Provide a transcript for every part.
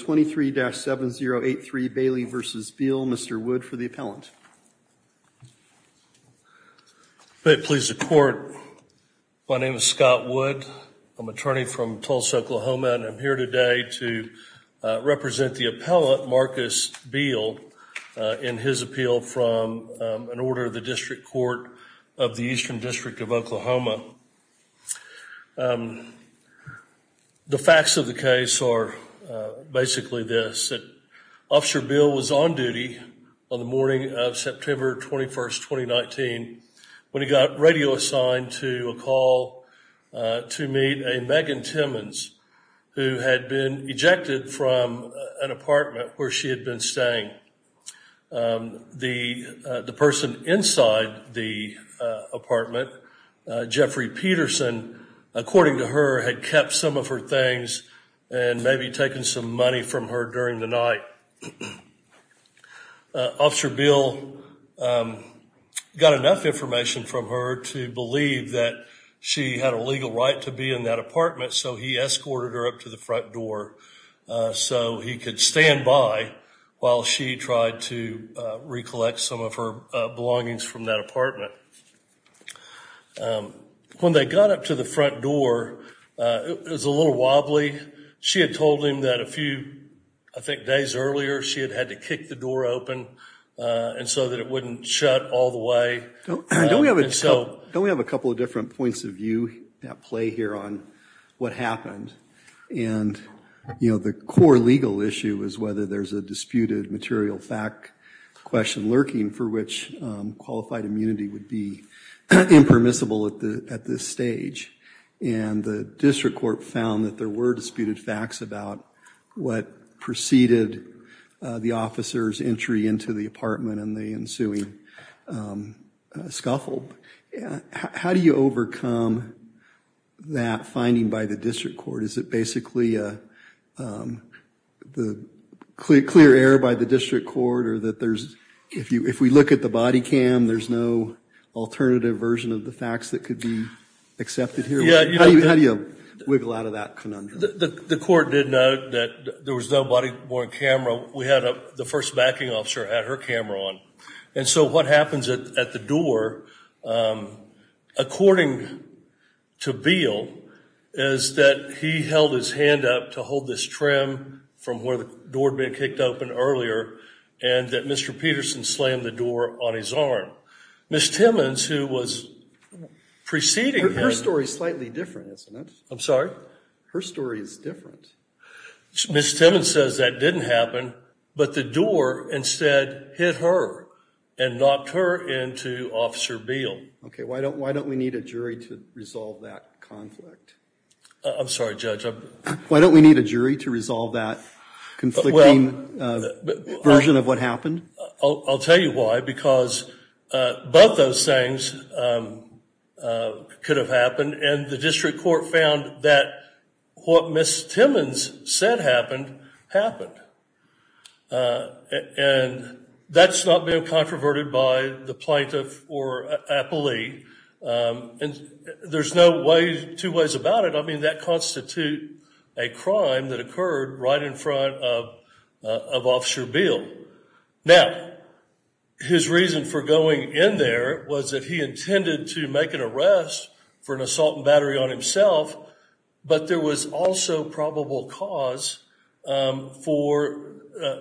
23-7083, Bailey v. Beale. Mr. Wood for the appellant. May it please the court, my name is Scott Wood. I'm an attorney from Tulsa, Oklahoma, and I'm here today to represent the appellant, Marcus Beale, in his appeal from an order of the District Court of the Eastern District of Oklahoma. The facts of the case are basically this, that Officer Beale was on duty on the morning of September 21st, 2019 when he got radio assigned to a call to meet a Megan Timmons who had been ejected from an apartment where she had been staying. The person inside the Jeffrey Peterson, according to her, had kept some of her things and maybe taken some money from her during the night. Officer Beale got enough information from her to believe that she had a legal right to be in that apartment, so he escorted her up to the front door so he could stand by while she tried to recollect some of her belongings from that apartment. When they got up to the front door, it was a little wobbly. She had told him that a few, I think, days earlier, she had had to kick the door open and so that it wouldn't shut all the way. Don't we have a couple of different points of view at play here on what happened? You know, the core legal issue is whether there's a disputed material fact question lurking for which qualified immunity would be impermissible at this stage, and the district court found that there were disputed facts about what preceded the officer's entry into the apartment and the ensuing scuffle. How do you overcome that finding by the district court? Is it basically the clear error by the district court or that there's, if we look at the body cam, there's no alternative version of the facts that could be accepted here? How do you wiggle out of that conundrum? The court did note that there was no body-worn camera. We had the first backing officer had her camera on, and so what happens at the door, according to Beal, is that he held his hand up to hold this trim from where the door had been kicked open earlier and that Mr. Peterson slammed the door on his arm. Ms. Timmons, who was preceding her... Her story is slightly different, isn't it? I'm sorry? Her story is different. Ms. Timmons says that didn't happen, but the door instead hit her and knocked her into Officer Beal. Okay, why don't we need a jury to resolve that conflict? I'm sorry, Judge. Why don't we need a jury to resolve that conflicting version of what happened? I'll tell you why, because both those things could have happened, and the district court found that what Ms. Timmons said happened, happened. And that's not being controverted by the plaintiff or appellee, and there's no way, two ways about it. I mean, that constitutes a crime that occurred right in front of Officer Beal. Now, his reason for going in there was that he intended to make an arrest for an assault and battery on himself, but there was also probable cause for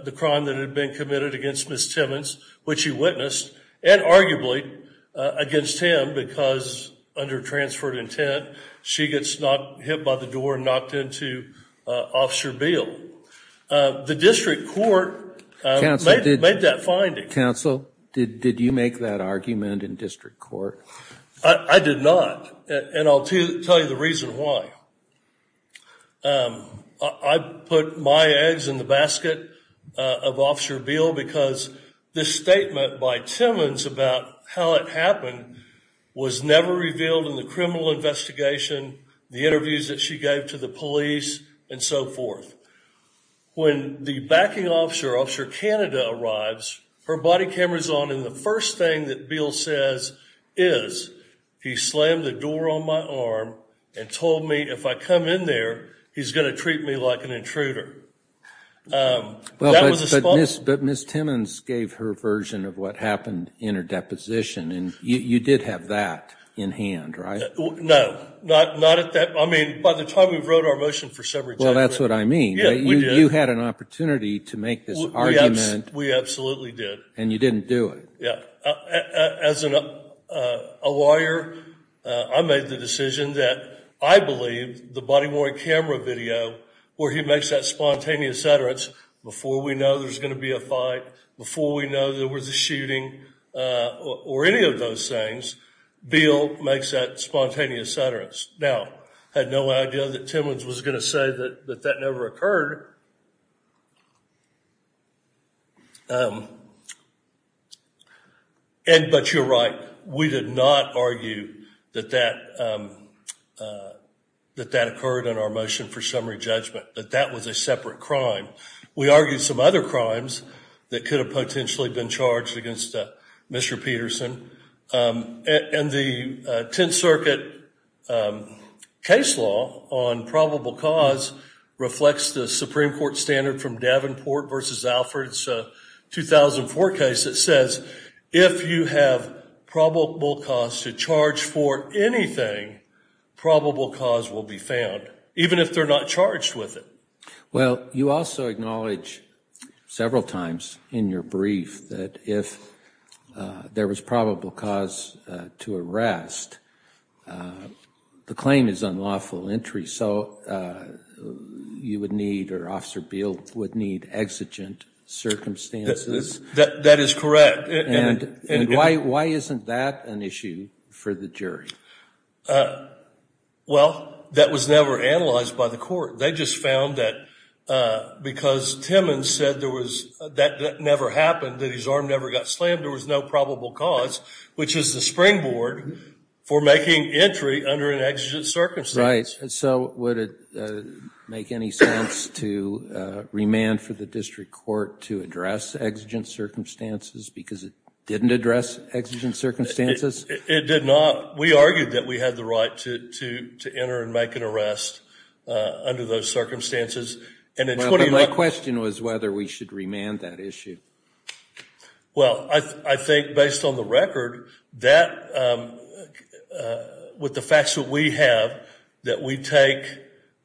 the crime that had been committed against Ms. Timmons, which he witnessed, and arguably against him, because under transferred intent, she gets hit by the door and knocked into Officer Beal. The district court made that finding. Counsel, did you make that argument in district court? I did not, and I'll tell you the reason why. I put my eggs in the basket of Officer Beal, because this statement by Timmons about how it happened was never revealed in the criminal investigation, the interviews that she gave to the police, and so forth. When the backing officer, Officer Canada, arrives, her body camera's on, and the first thing that Beal says is he slammed the door on my arm and told me if I come in there, he's going to treat me like an intruder. Well, but Ms. Timmons gave her version of what happened in her deposition, and you did have that in hand, right? No, not at that, I mean, by the time we wrote our motion for subject. Well, that's what I mean. You had an opportunity to make this argument. We absolutely did. And you didn't do it. Yeah. As a lawyer, I made the decision that I believed the body-worn camera video, where he makes that spontaneous utterance, before we know there's going to be a fight, before we know there was a shooting, or any of those things, Beal makes that spontaneous utterance. Now, I had no idea that Timmons was going to say that that never occurred. And, but you're right, we did not argue that that occurred in our motion for summary judgment, that that was a separate crime. We argued some other crimes that could have potentially been charged against Mr. Peterson, and the Tenth Circuit case law on probable cause reflects the Supreme Court standard from Davenport v. Alford's 2004 case that says, if you have probable cause to charge for anything, probable cause will be found, even if they're not charged with it. Well, you also acknowledge several times in your brief that if there was probable cause to arrest, the claim is unlawful entry. So, you would need, or Officer Beal would need, exigent circumstances. That is correct. And why isn't that an issue for the jury? Well, that was never analyzed by the court. They just found that, because Timmons said there was, that never happened, that his arm never got slammed, there was no probable cause, which is the springboard for making entry under an exigent circumstance. Right, so would it make any sense to remand for the district court to address exigent circumstances because it didn't address exigent circumstances? It did not. We argued that we had the right to enter and make an arrest under those circumstances. My question was whether we should remand that issue. Well, I think, based on the record, that, with the facts that we have, that we take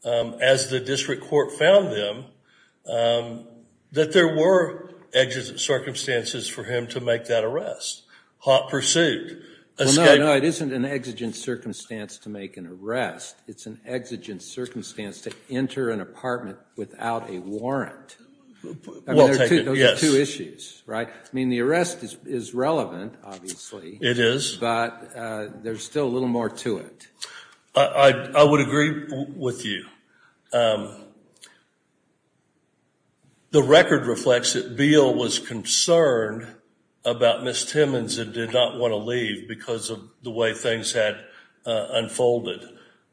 as the district court found them, that there were exigent circumstances for him to make that arrest. Hot pursuit. No, no, it isn't an exigent circumstance to make an arrest. It's an exigent circumstance to enter an apartment without a warrant. Well taken, yes. Those are two issues, right? I mean, the arrest is relevant, obviously. It is. But there's still a little more to it. I would agree with you. The record reflects that Beal was concerned about Ms. Timmons and did not want to leave because of the way things had unfolded.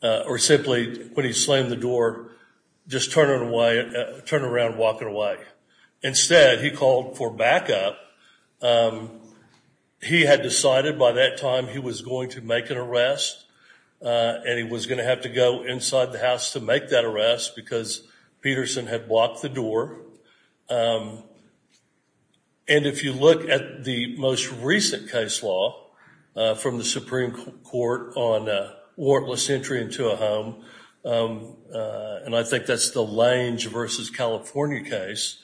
Or simply, when he slammed the door, just turn it away, turn around, walk it away. Instead, he called for backup. He had decided by that time he was going to make an arrest and he was going to have to go inside the house to make that arrest because Peterson had blocked the door. And if you look at the most recent case law from the Supreme Court on warrantless entry into a home, and I think that's the Lange versus California case,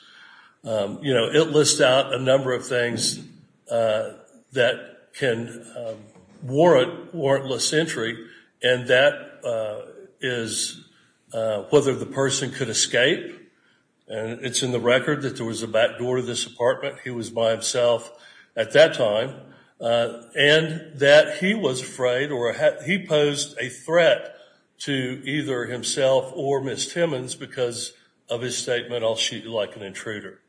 you know, it lists out a number of things that can warrant warrantless entry and that is whether the person could escape. And it's in the record that there was a back door to this apartment. He was by himself at that time. And that he was afraid or he posed a threat to either himself or Ms. Timmons because of his statement, I'll shoot you like an intruder.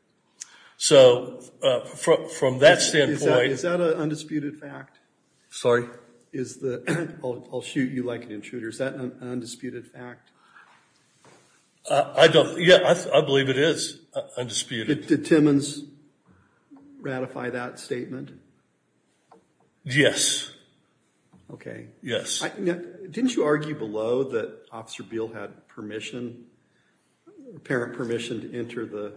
So, from that standpoint... Is that an undisputed fact? Sorry? I'll shoot you like an intruder. Is that an undisputed fact? I don't, yeah, I believe it is undisputed. Did Timmons ratify that statement? Yes. Okay. Yes. Didn't you argue below that Officer Beal had permission, parent permission to enter the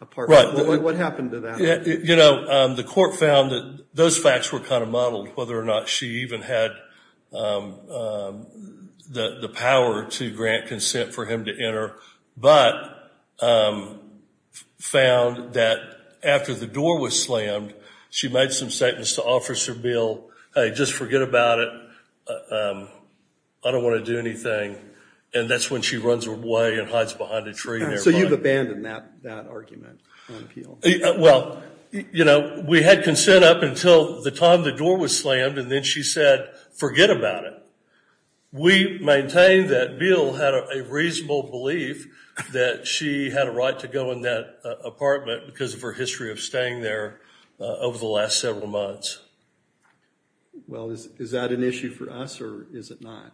apartment? What happened to that? Yeah, you know, the court found that those facts were kind of muddled whether or not she even had the power to grant consent for him to enter, but found that after the door was slammed, she made some statements to Officer Beal. Hey, just forget about it. I don't want to do anything. And that's when she runs away and hides behind a tree. So you've abandoned that argument? Well, you know, we had consent up until the time the door was slammed and then she said forget about it. We maintain that Beal had a reasonable belief that she had a right to go in that apartment because of her history of staying there over the last several months. Well, is that an issue for us or is it not?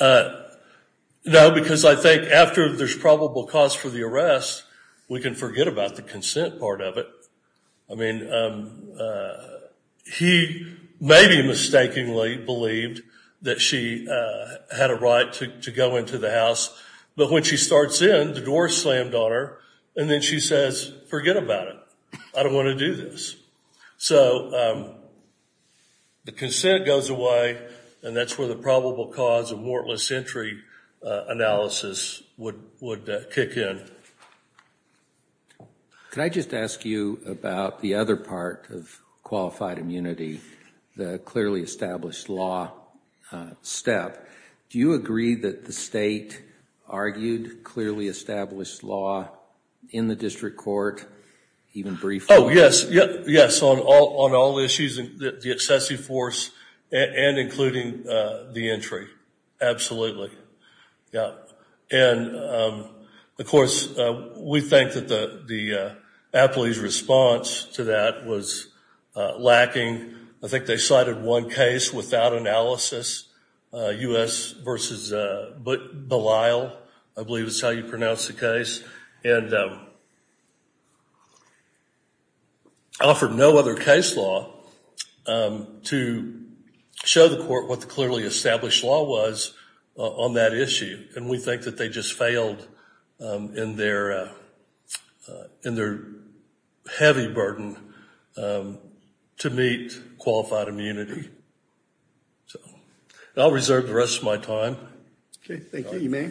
No, because I think after there's probable cause for the arrest, we can forget about the consent part of it. I mean, he maybe mistakenly believed that she had a right to go into the house. But when she starts in, the door slammed on her and then she says forget about it. I don't want to do this. So, the consent goes away and that's where the probable cause of mortless entry analysis would kick in. Can I just ask you about the other part of qualified immunity, the clearly established law step. Do you agree that the state argued clearly established law in the district court, even briefly? Oh, yes. Yes, on all issues, the excessive force and including the entry. Absolutely. Yeah, and of course, we think that the appellee's response to that was lacking. I think they cited one case without analysis, U.S. versus Belisle. I believe it's how you pronounce the case and offered no other case law to show the court what the clearly established law was on that issue. And we think that they just failed in their in their heavy burden to meet qualified immunity. So, I'll reserve the rest of my time. Okay. Thank you. You may.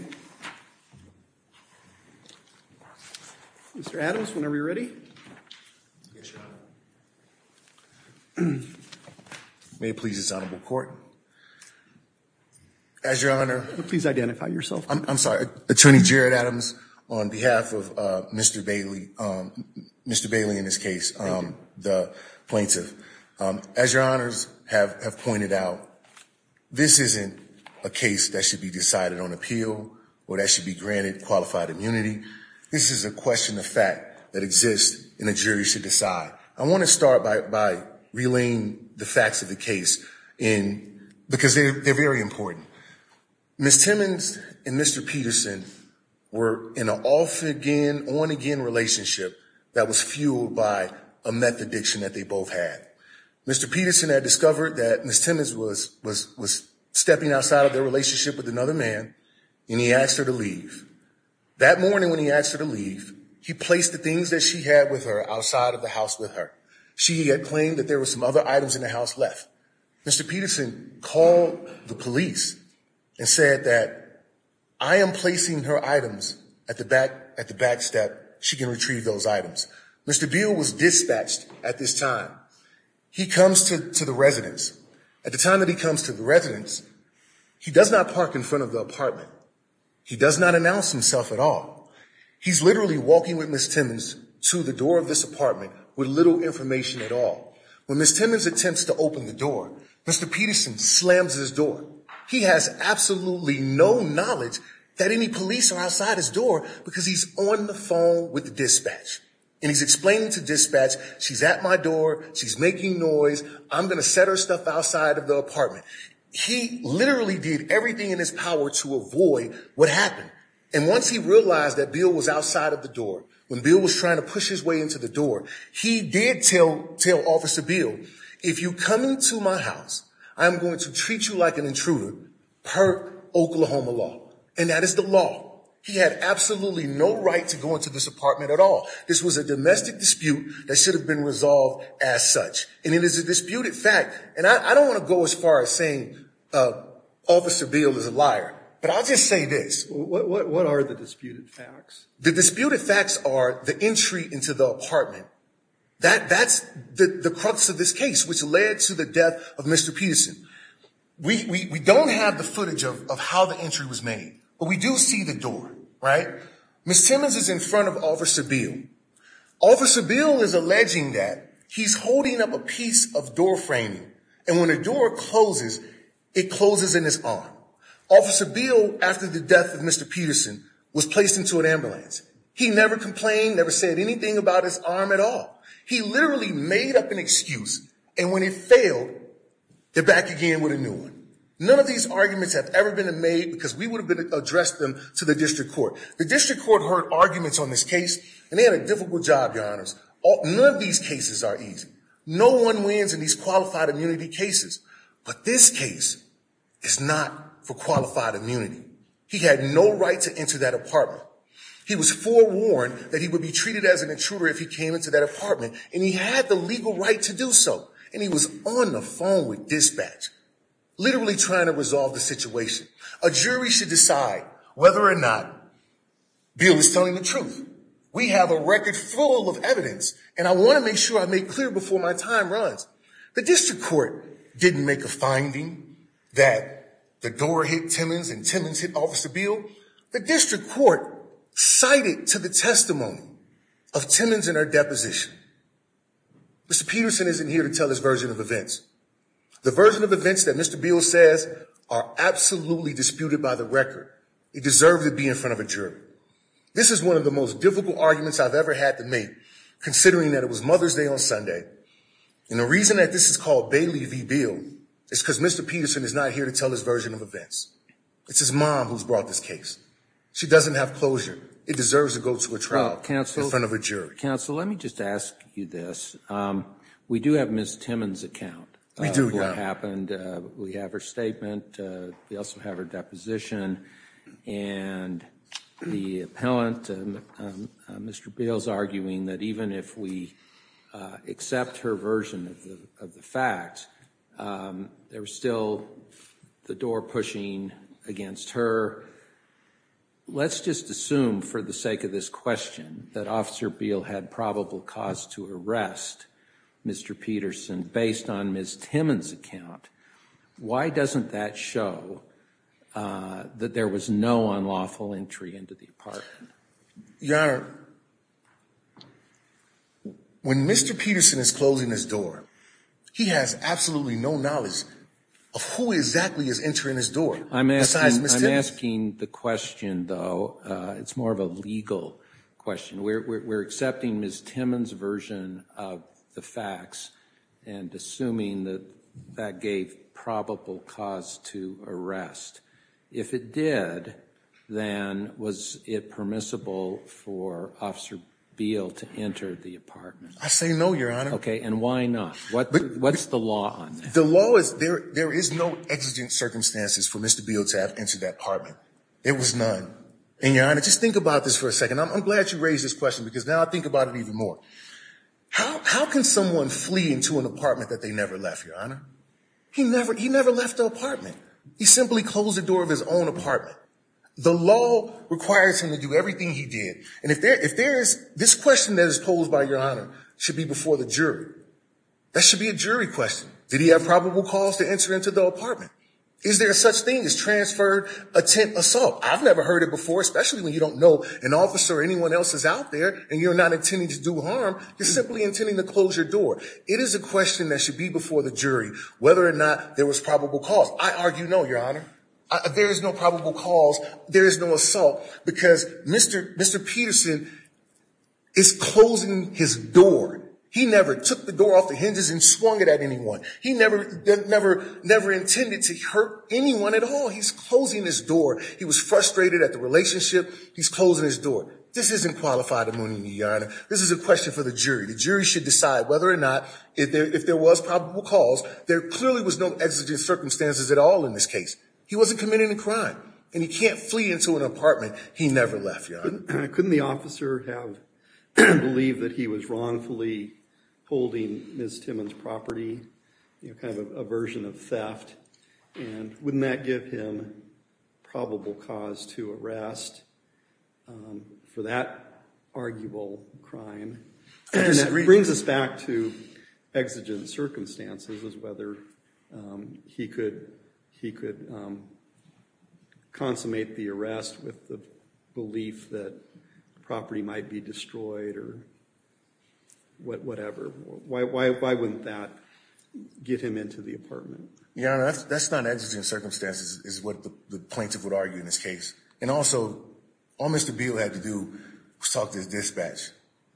Mr. Adams, when are we ready? Yes, Your Honor. May it please this honorable court. As Your Honor. Please identify yourself. I'm sorry, Attorney Jared Adams on behalf of Mr. Bailey. Mr. Bailey in this case, the plaintiff. As Your Honors have pointed out, this isn't a case that should be decided on appeal or that should be granted qualified immunity. This is a question of fact that exists in a jury should decide. I want to start by relaying the facts of the case because they're very important. Ms. Timmons and Mr. Peterson were in an off-again, on-again relationship that was fueled by a meth addiction that they both had. Mr. Peterson had discovered that Ms. Timmons was stepping outside of their relationship with another man and he asked her to leave. That morning when he asked her to leave, he placed the things that she had with her outside of the house with her. She had claimed that there were some other items in the house left. Mr. Peterson called the police and said that I am placing her items at the back at the back step. She can retrieve those items. Mr. Beal was dispatched at this time. He comes to the residence. At the time that he comes to the residence, he does not park in front of the apartment. He does not announce himself at all. He's literally walking with Ms. Timmons to the door of this apartment with little information at all. When Ms. Timmons attempts to open the door, Mr. Peterson slams his door. He has absolutely no knowledge that any police are outside his door because he's on the phone with the dispatch. And he's explaining to dispatch. She's at my door. She's making noise. I'm gonna set her stuff outside of the apartment. He literally did everything in his power to avoid what happened. And once he realized that Beal was outside of the door, when Beal was trying to push his way into the door, he did tell Officer Beal, if you come into my house, I'm going to treat you like an intruder per Oklahoma law. And that is the law. He had absolutely no right to go into this apartment at all. This was a domestic dispute that should have been resolved as such. And it is a disputed fact. And I don't want to go as far as saying Officer Beal is a liar, but I'll just say this. What are the disputed facts? The disputed facts are the entry into the apartment. That's the crux of this case, which led to the death of Mr. Peterson. We don't have the footage of how the entry was made, but we do see the door. Right. Ms. Timmons is in front of Officer Beal. Officer Beal is alleging that he's holding up a piece of door framing. And when a door closes, it closes in his arm. Officer Beal, after the death of Mr. Peterson, was placed into an ambulance. He never complained, never said anything about his arm at all. He literally made up an excuse. And when it failed, they're back again with a new one. None of these arguments have ever been made because we would have addressed them to the district court. The district court heard arguments on this case, and they had a difficult job, your honors. None of these cases are easy. No one wins in these qualified immunity cases. But this case is not for qualified immunity. He had no right to enter that apartment. He was forewarned that he would be treated as an intruder if he came into that apartment. And he had the legal right to do so. And he was on the phone with dispatch, literally trying to resolve the situation. A jury should decide whether or not Beal is telling the truth. We have a record full of evidence, and I want to make sure I make clear before my time runs. The district court didn't make a finding that the door hit Timmons and Timmons hit Officer Beal. The district court cited to the testimony of Timmons in her deposition. Mr. Peterson isn't here to tell his version of events. The version of events that Mr. Beal says are absolutely disputed by the record. It deserves to be in front of a jury. This is one of the most difficult arguments I've ever had to make, considering that it was Mother's Day on Sunday. And the reason that this is called Bailey v. Beal is because Mr. Peterson is not here to tell his version of events. It's his mom who's brought this case. She doesn't have closure. It deserves to go to a trial in front of a jury. Counsel, let me just ask you this. We do have Ms. Timmons' account of what happened. We have her statement. We also have her deposition. And the appellant, Mr. Beal, is arguing that even if we accept her version of the fact, there was still the door pushing against her. Let's just assume, for the sake of this question, that Officer Beal had probable cause to arrest Mr. Peterson based on Ms. Timmons' account. Why doesn't that show that there was no unlawful entry into the apartment? Your Honor, when Mr. Peterson is closing his door, he has absolutely no knowledge of who exactly is entering his door. I'm asking the question, though. It's more of a legal question. We're accepting Ms. Timmons' version of the facts and assuming that that gave probable cause to arrest. If it did, then was it permissible for Officer Beal to enter the apartment? I say no, Your Honor. Okay. And why not? What's the law on that? The law is, there is no exigent circumstances for Mr. Beal to have entered that apartment. There was none. And Your Honor, just think about this for a second. I'm glad you raised this question because now I think about it even more. How can someone flee into an apartment that they never left, Your Honor? He never left the apartment. He simply closed the door of his own apartment. The law requires him to do everything he did. And if there is, this question that is posed by Your Honor should be before the jury. That should be a jury question. Did he have probable cause to enter into the apartment? Is there such thing as transferred attempt assault? I've never heard it before, especially when you don't know an officer or anyone else is out there and you're not intending to do harm. You're simply intending to close your door. It is a question that should be before the jury, whether or not there was probable cause. I argue no, Your Honor. There is no probable cause. There is no assault because Mr. Mr. Peterson is closing his door. He never took the door off the hinges and swung it at anyone. He never, never, never intended to hurt anyone at all. He's closing his door. He was frustrated at the relationship. He's closing his door. This isn't qualified immunity, Your Honor. This is a question for the jury. The jury should decide whether or not, if there was probable cause, there clearly was no exigent circumstances at all in this case. He wasn't committing a crime and he can't flee into an apartment. He never left, Your Honor. Couldn't the officer have believed that he was wrongfully holding Ms. Timmons' property, you know, kind of a version of theft? And wouldn't that give him probable cause to arrest for that arguable crime? And that brings us back to exigent circumstances as whether he could consummate the arrest with the belief that property might be destroyed or whatever. Why wouldn't that get him into the apartment? Your Honor, that's not exigent circumstances is what the plaintiff would argue in this case. And also, all Mr. Beal had to do was talk to his dispatch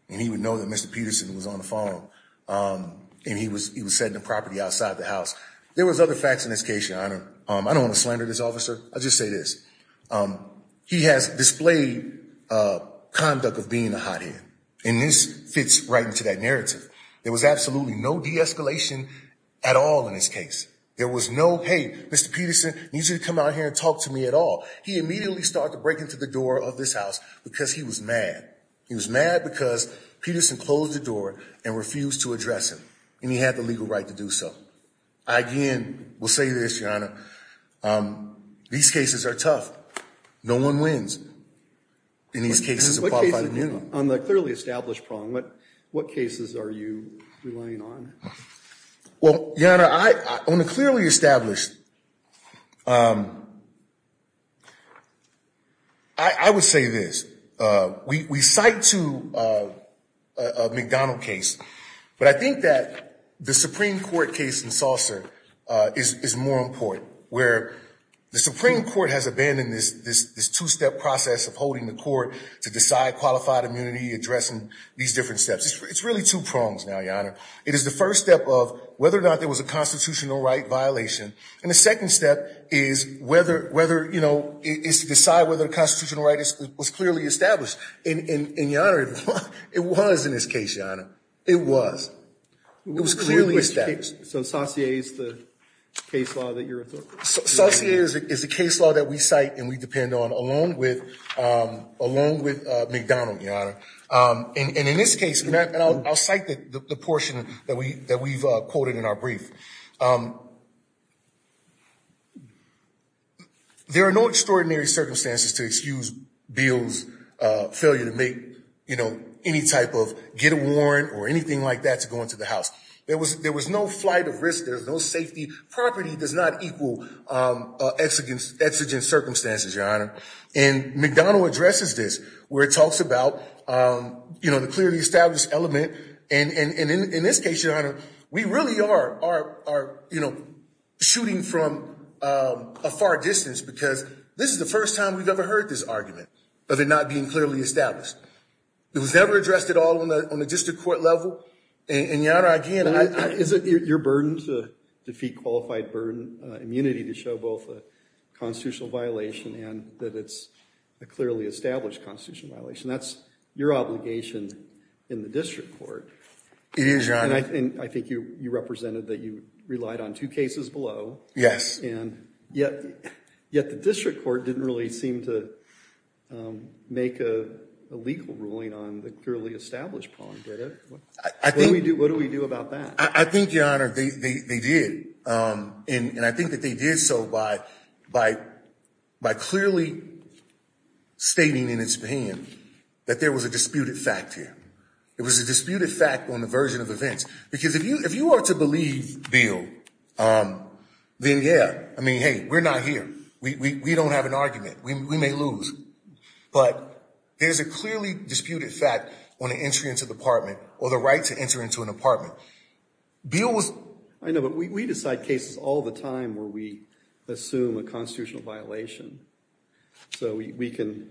and he would know that Mr. Peterson was on the phone and he was setting the property outside the house. There was other facts in this case, Your Honor. I don't want to slander this officer. I'll just say this. He has displayed conduct of being a hothead and this fits right into that narrative. There was absolutely no de-escalation at all in this case. There was no, hey, Mr. Peterson needs you to come out here and talk to me at all. He immediately started to break into the door of this house because he was mad. He was mad because Peterson closed the door and refused to address him and he had the legal right to do so. I again will say this, Your Honor, these cases are tough. No one wins in these cases of qualified immunity. On the clearly established problem, what cases are you relying on? Well, Your Honor, on the clearly established, I would say this. We cite to a McDonald case, but I think that the Supreme Court case in Saucer is more important, where the Supreme Court has abandoned this two-step process of holding the Supreme Court to decide qualified immunity, addressing these different steps. It's really two prongs now, Your Honor. It is the first step of whether or not there was a constitutional right violation. And the second step is to decide whether the constitutional right was clearly established. And Your Honor, it was in this case, Your Honor. It was. It was clearly established. So Saucier is the case law that you're referring to? Along with McDonald, Your Honor, and in this case, and I'll cite the portion that we've quoted in our brief. There are no extraordinary circumstances to excuse Beals' failure to make any type of get a warrant or anything like that to go into the house. There was no flight of risk. There's no safety. Property does not equal exigent circumstances, Your Honor. And McDonald addresses this, where it talks about, you know, the clearly established element. And in this case, Your Honor, we really are, you know, shooting from a far distance because this is the first time we've ever heard this argument of it not being clearly established. It was never addressed at all on the district court level. And Your Honor, again, is it your burden to defeat qualified burden immunity to show both a constitutional violation and that it's a clearly established constitutional violation? That's your obligation in the district court. It is, Your Honor. And I think you represented that you relied on two cases below. Yes. And yet the district court didn't really seem to make a legal ruling on the clearly established prong, did it? What do we do? What do we do about that? I think, Your Honor, they did. And I think that they did so by clearly stating in his hand that there was a disputed fact here. It was a disputed fact on the version of events. Because if you are to believe, Bill, then yeah, I mean, hey, we're not here. We don't have an argument. We may lose. But there's a clearly disputed fact on the entry into the apartment or the right to enter into an apartment. Bill was. I know, but we decide cases all the time where we assume a constitutional violation. So we can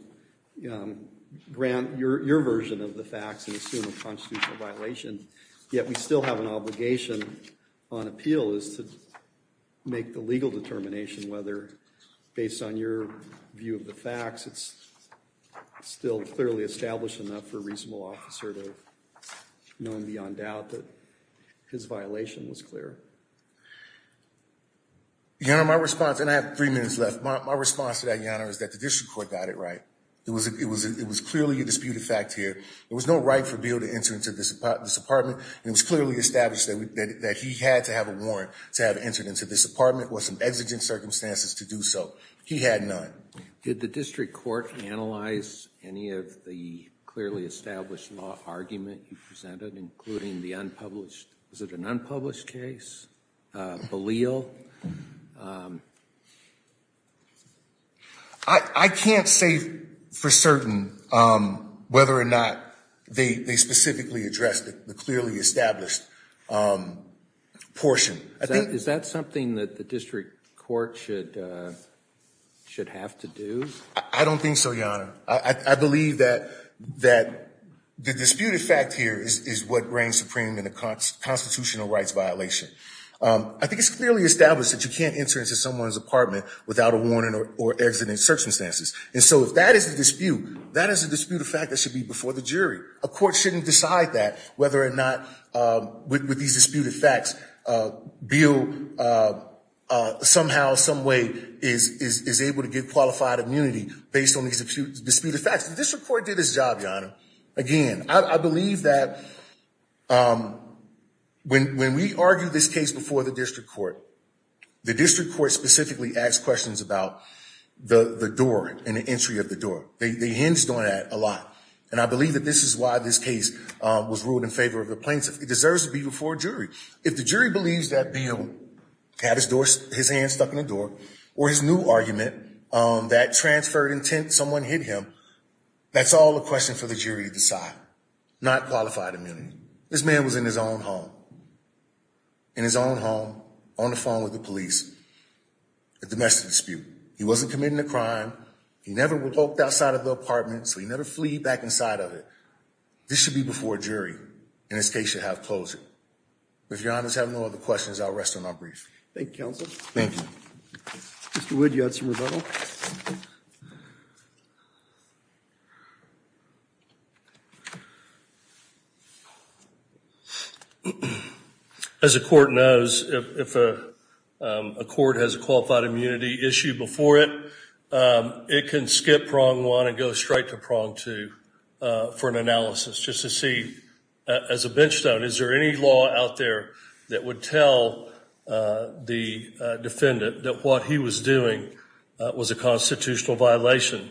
grant your version of the facts and assume a constitutional violation. And yet we still have an obligation on appeal is to make the legal determination whether, based on your view of the facts, it's still clearly established enough for a reasonable officer to know beyond doubt that his violation was clear. Your Honor, my response, and I have three minutes left, my response to that, Your Honor, is that the district court got it right. It was it was it was clearly a disputed fact here. There was no right for Bill to enter into this apartment and it was clearly established that he had to have a warrant to have entered into this apartment or some exigent circumstances to do so. He had none. Did the district court analyze any of the clearly established law argument you presented, including the unpublished? Is it an unpublished case? Belial. I can't say for certain whether or not they specifically addressed the clearly established portion. Is that something that the district court should should have to do? I don't think so, Your Honor. I believe that that the disputed fact here is what reigns supreme in a constitutional rights violation. I think it's clearly established that you can't enter into someone's apartment without a warrant or exigent circumstances. And so if that is the dispute, that is a disputed fact that should be before the jury. A court shouldn't decide that whether or not with these disputed facts, Bill somehow, some way, is able to get qualified immunity based on these disputed facts. District court did its job, Your Honor. Again, I believe that when we argue this case before the district court, the district court specifically asked questions about the door and the entry of the door. They hinged on that a lot. And I believe that this is why this case was ruled in favor of the plaintiff. It deserves to be before a jury. If the jury believes that Belial had his hand stuck in the door or his new argument, that transferred intent, someone hit him, that's all a question for the jury. You decide, not qualified immunity. This man was in his own home, in his own home, on the phone with the police, a domestic dispute. He wasn't committing a crime. He never walked outside of the apartment, so he never fleed back inside of it. This should be before a jury, and this case should have closure. If Your Honor has no other questions, I'll rest on my brief. Thank you, counsel. Thank you. Mr. Wood, you had some rebuttal. As a court knows, if a court has a qualified immunity issue before it, it can skip prong one and go straight to prong two for an analysis just to see, as a bench stone, is there any law out there that would tell the defendant that what he was doing was a constitutional violation?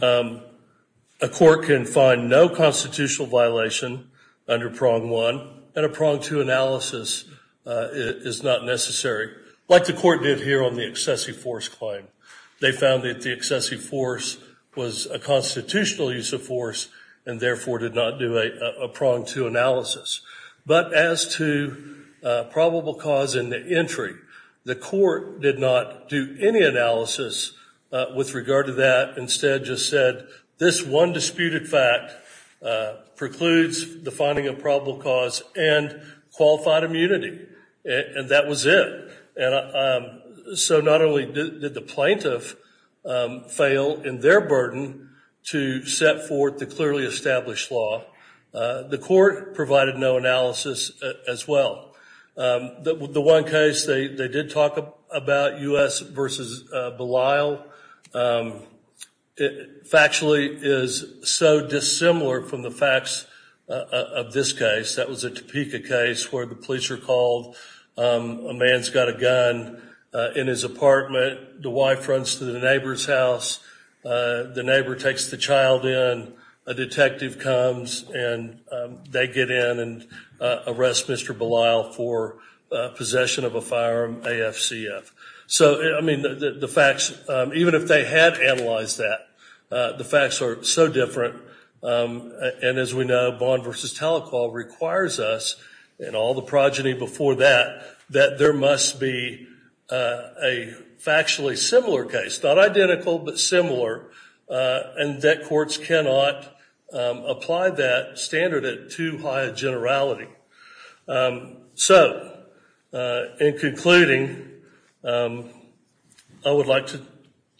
A court can find no constitutional violation under prong one, and a prong two analysis is not necessary, like the court did here on the excessive force claim. They found that the excessive force was a constitutional use of force, and therefore did not do a prong two analysis. But as to probable cause in the entry, the court did not do any analysis with regard to that, instead just said, this one disputed fact precludes the finding of probable cause and qualified immunity, and that was it. And so not only did the plaintiff fail in their burden to set forth the clearly established law, the court provided no analysis as well. The one case they did talk about, U.S. versus Belisle, factually is so dissimilar from the facts of this case. That was a Topeka case where the police are called, a man's got a gun in his apartment, the wife runs to the neighbor's house, the neighbor takes the child in, a detective comes. And they get in and arrest Mr. Belisle for possession of a firearm, AFCF. So, I mean, the facts, even if they had analyzed that, the facts are so different, and as we know, bond versus telecall requires us, and all the progeny before that, that there must be a factually similar case. Not identical, but similar, and that courts cannot apply that standard at too high a generality. So, in concluding, I would like to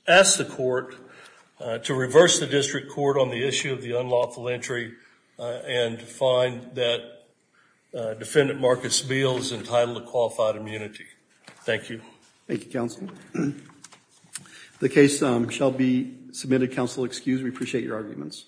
ask the court to reverse the district court on the issue of the unlawful entry and find that defendant Marcus Beal is entitled to qualified immunity. Thank you. Thank you, counsel. The case shall be submitted, counsel excused. We appreciate your arguments.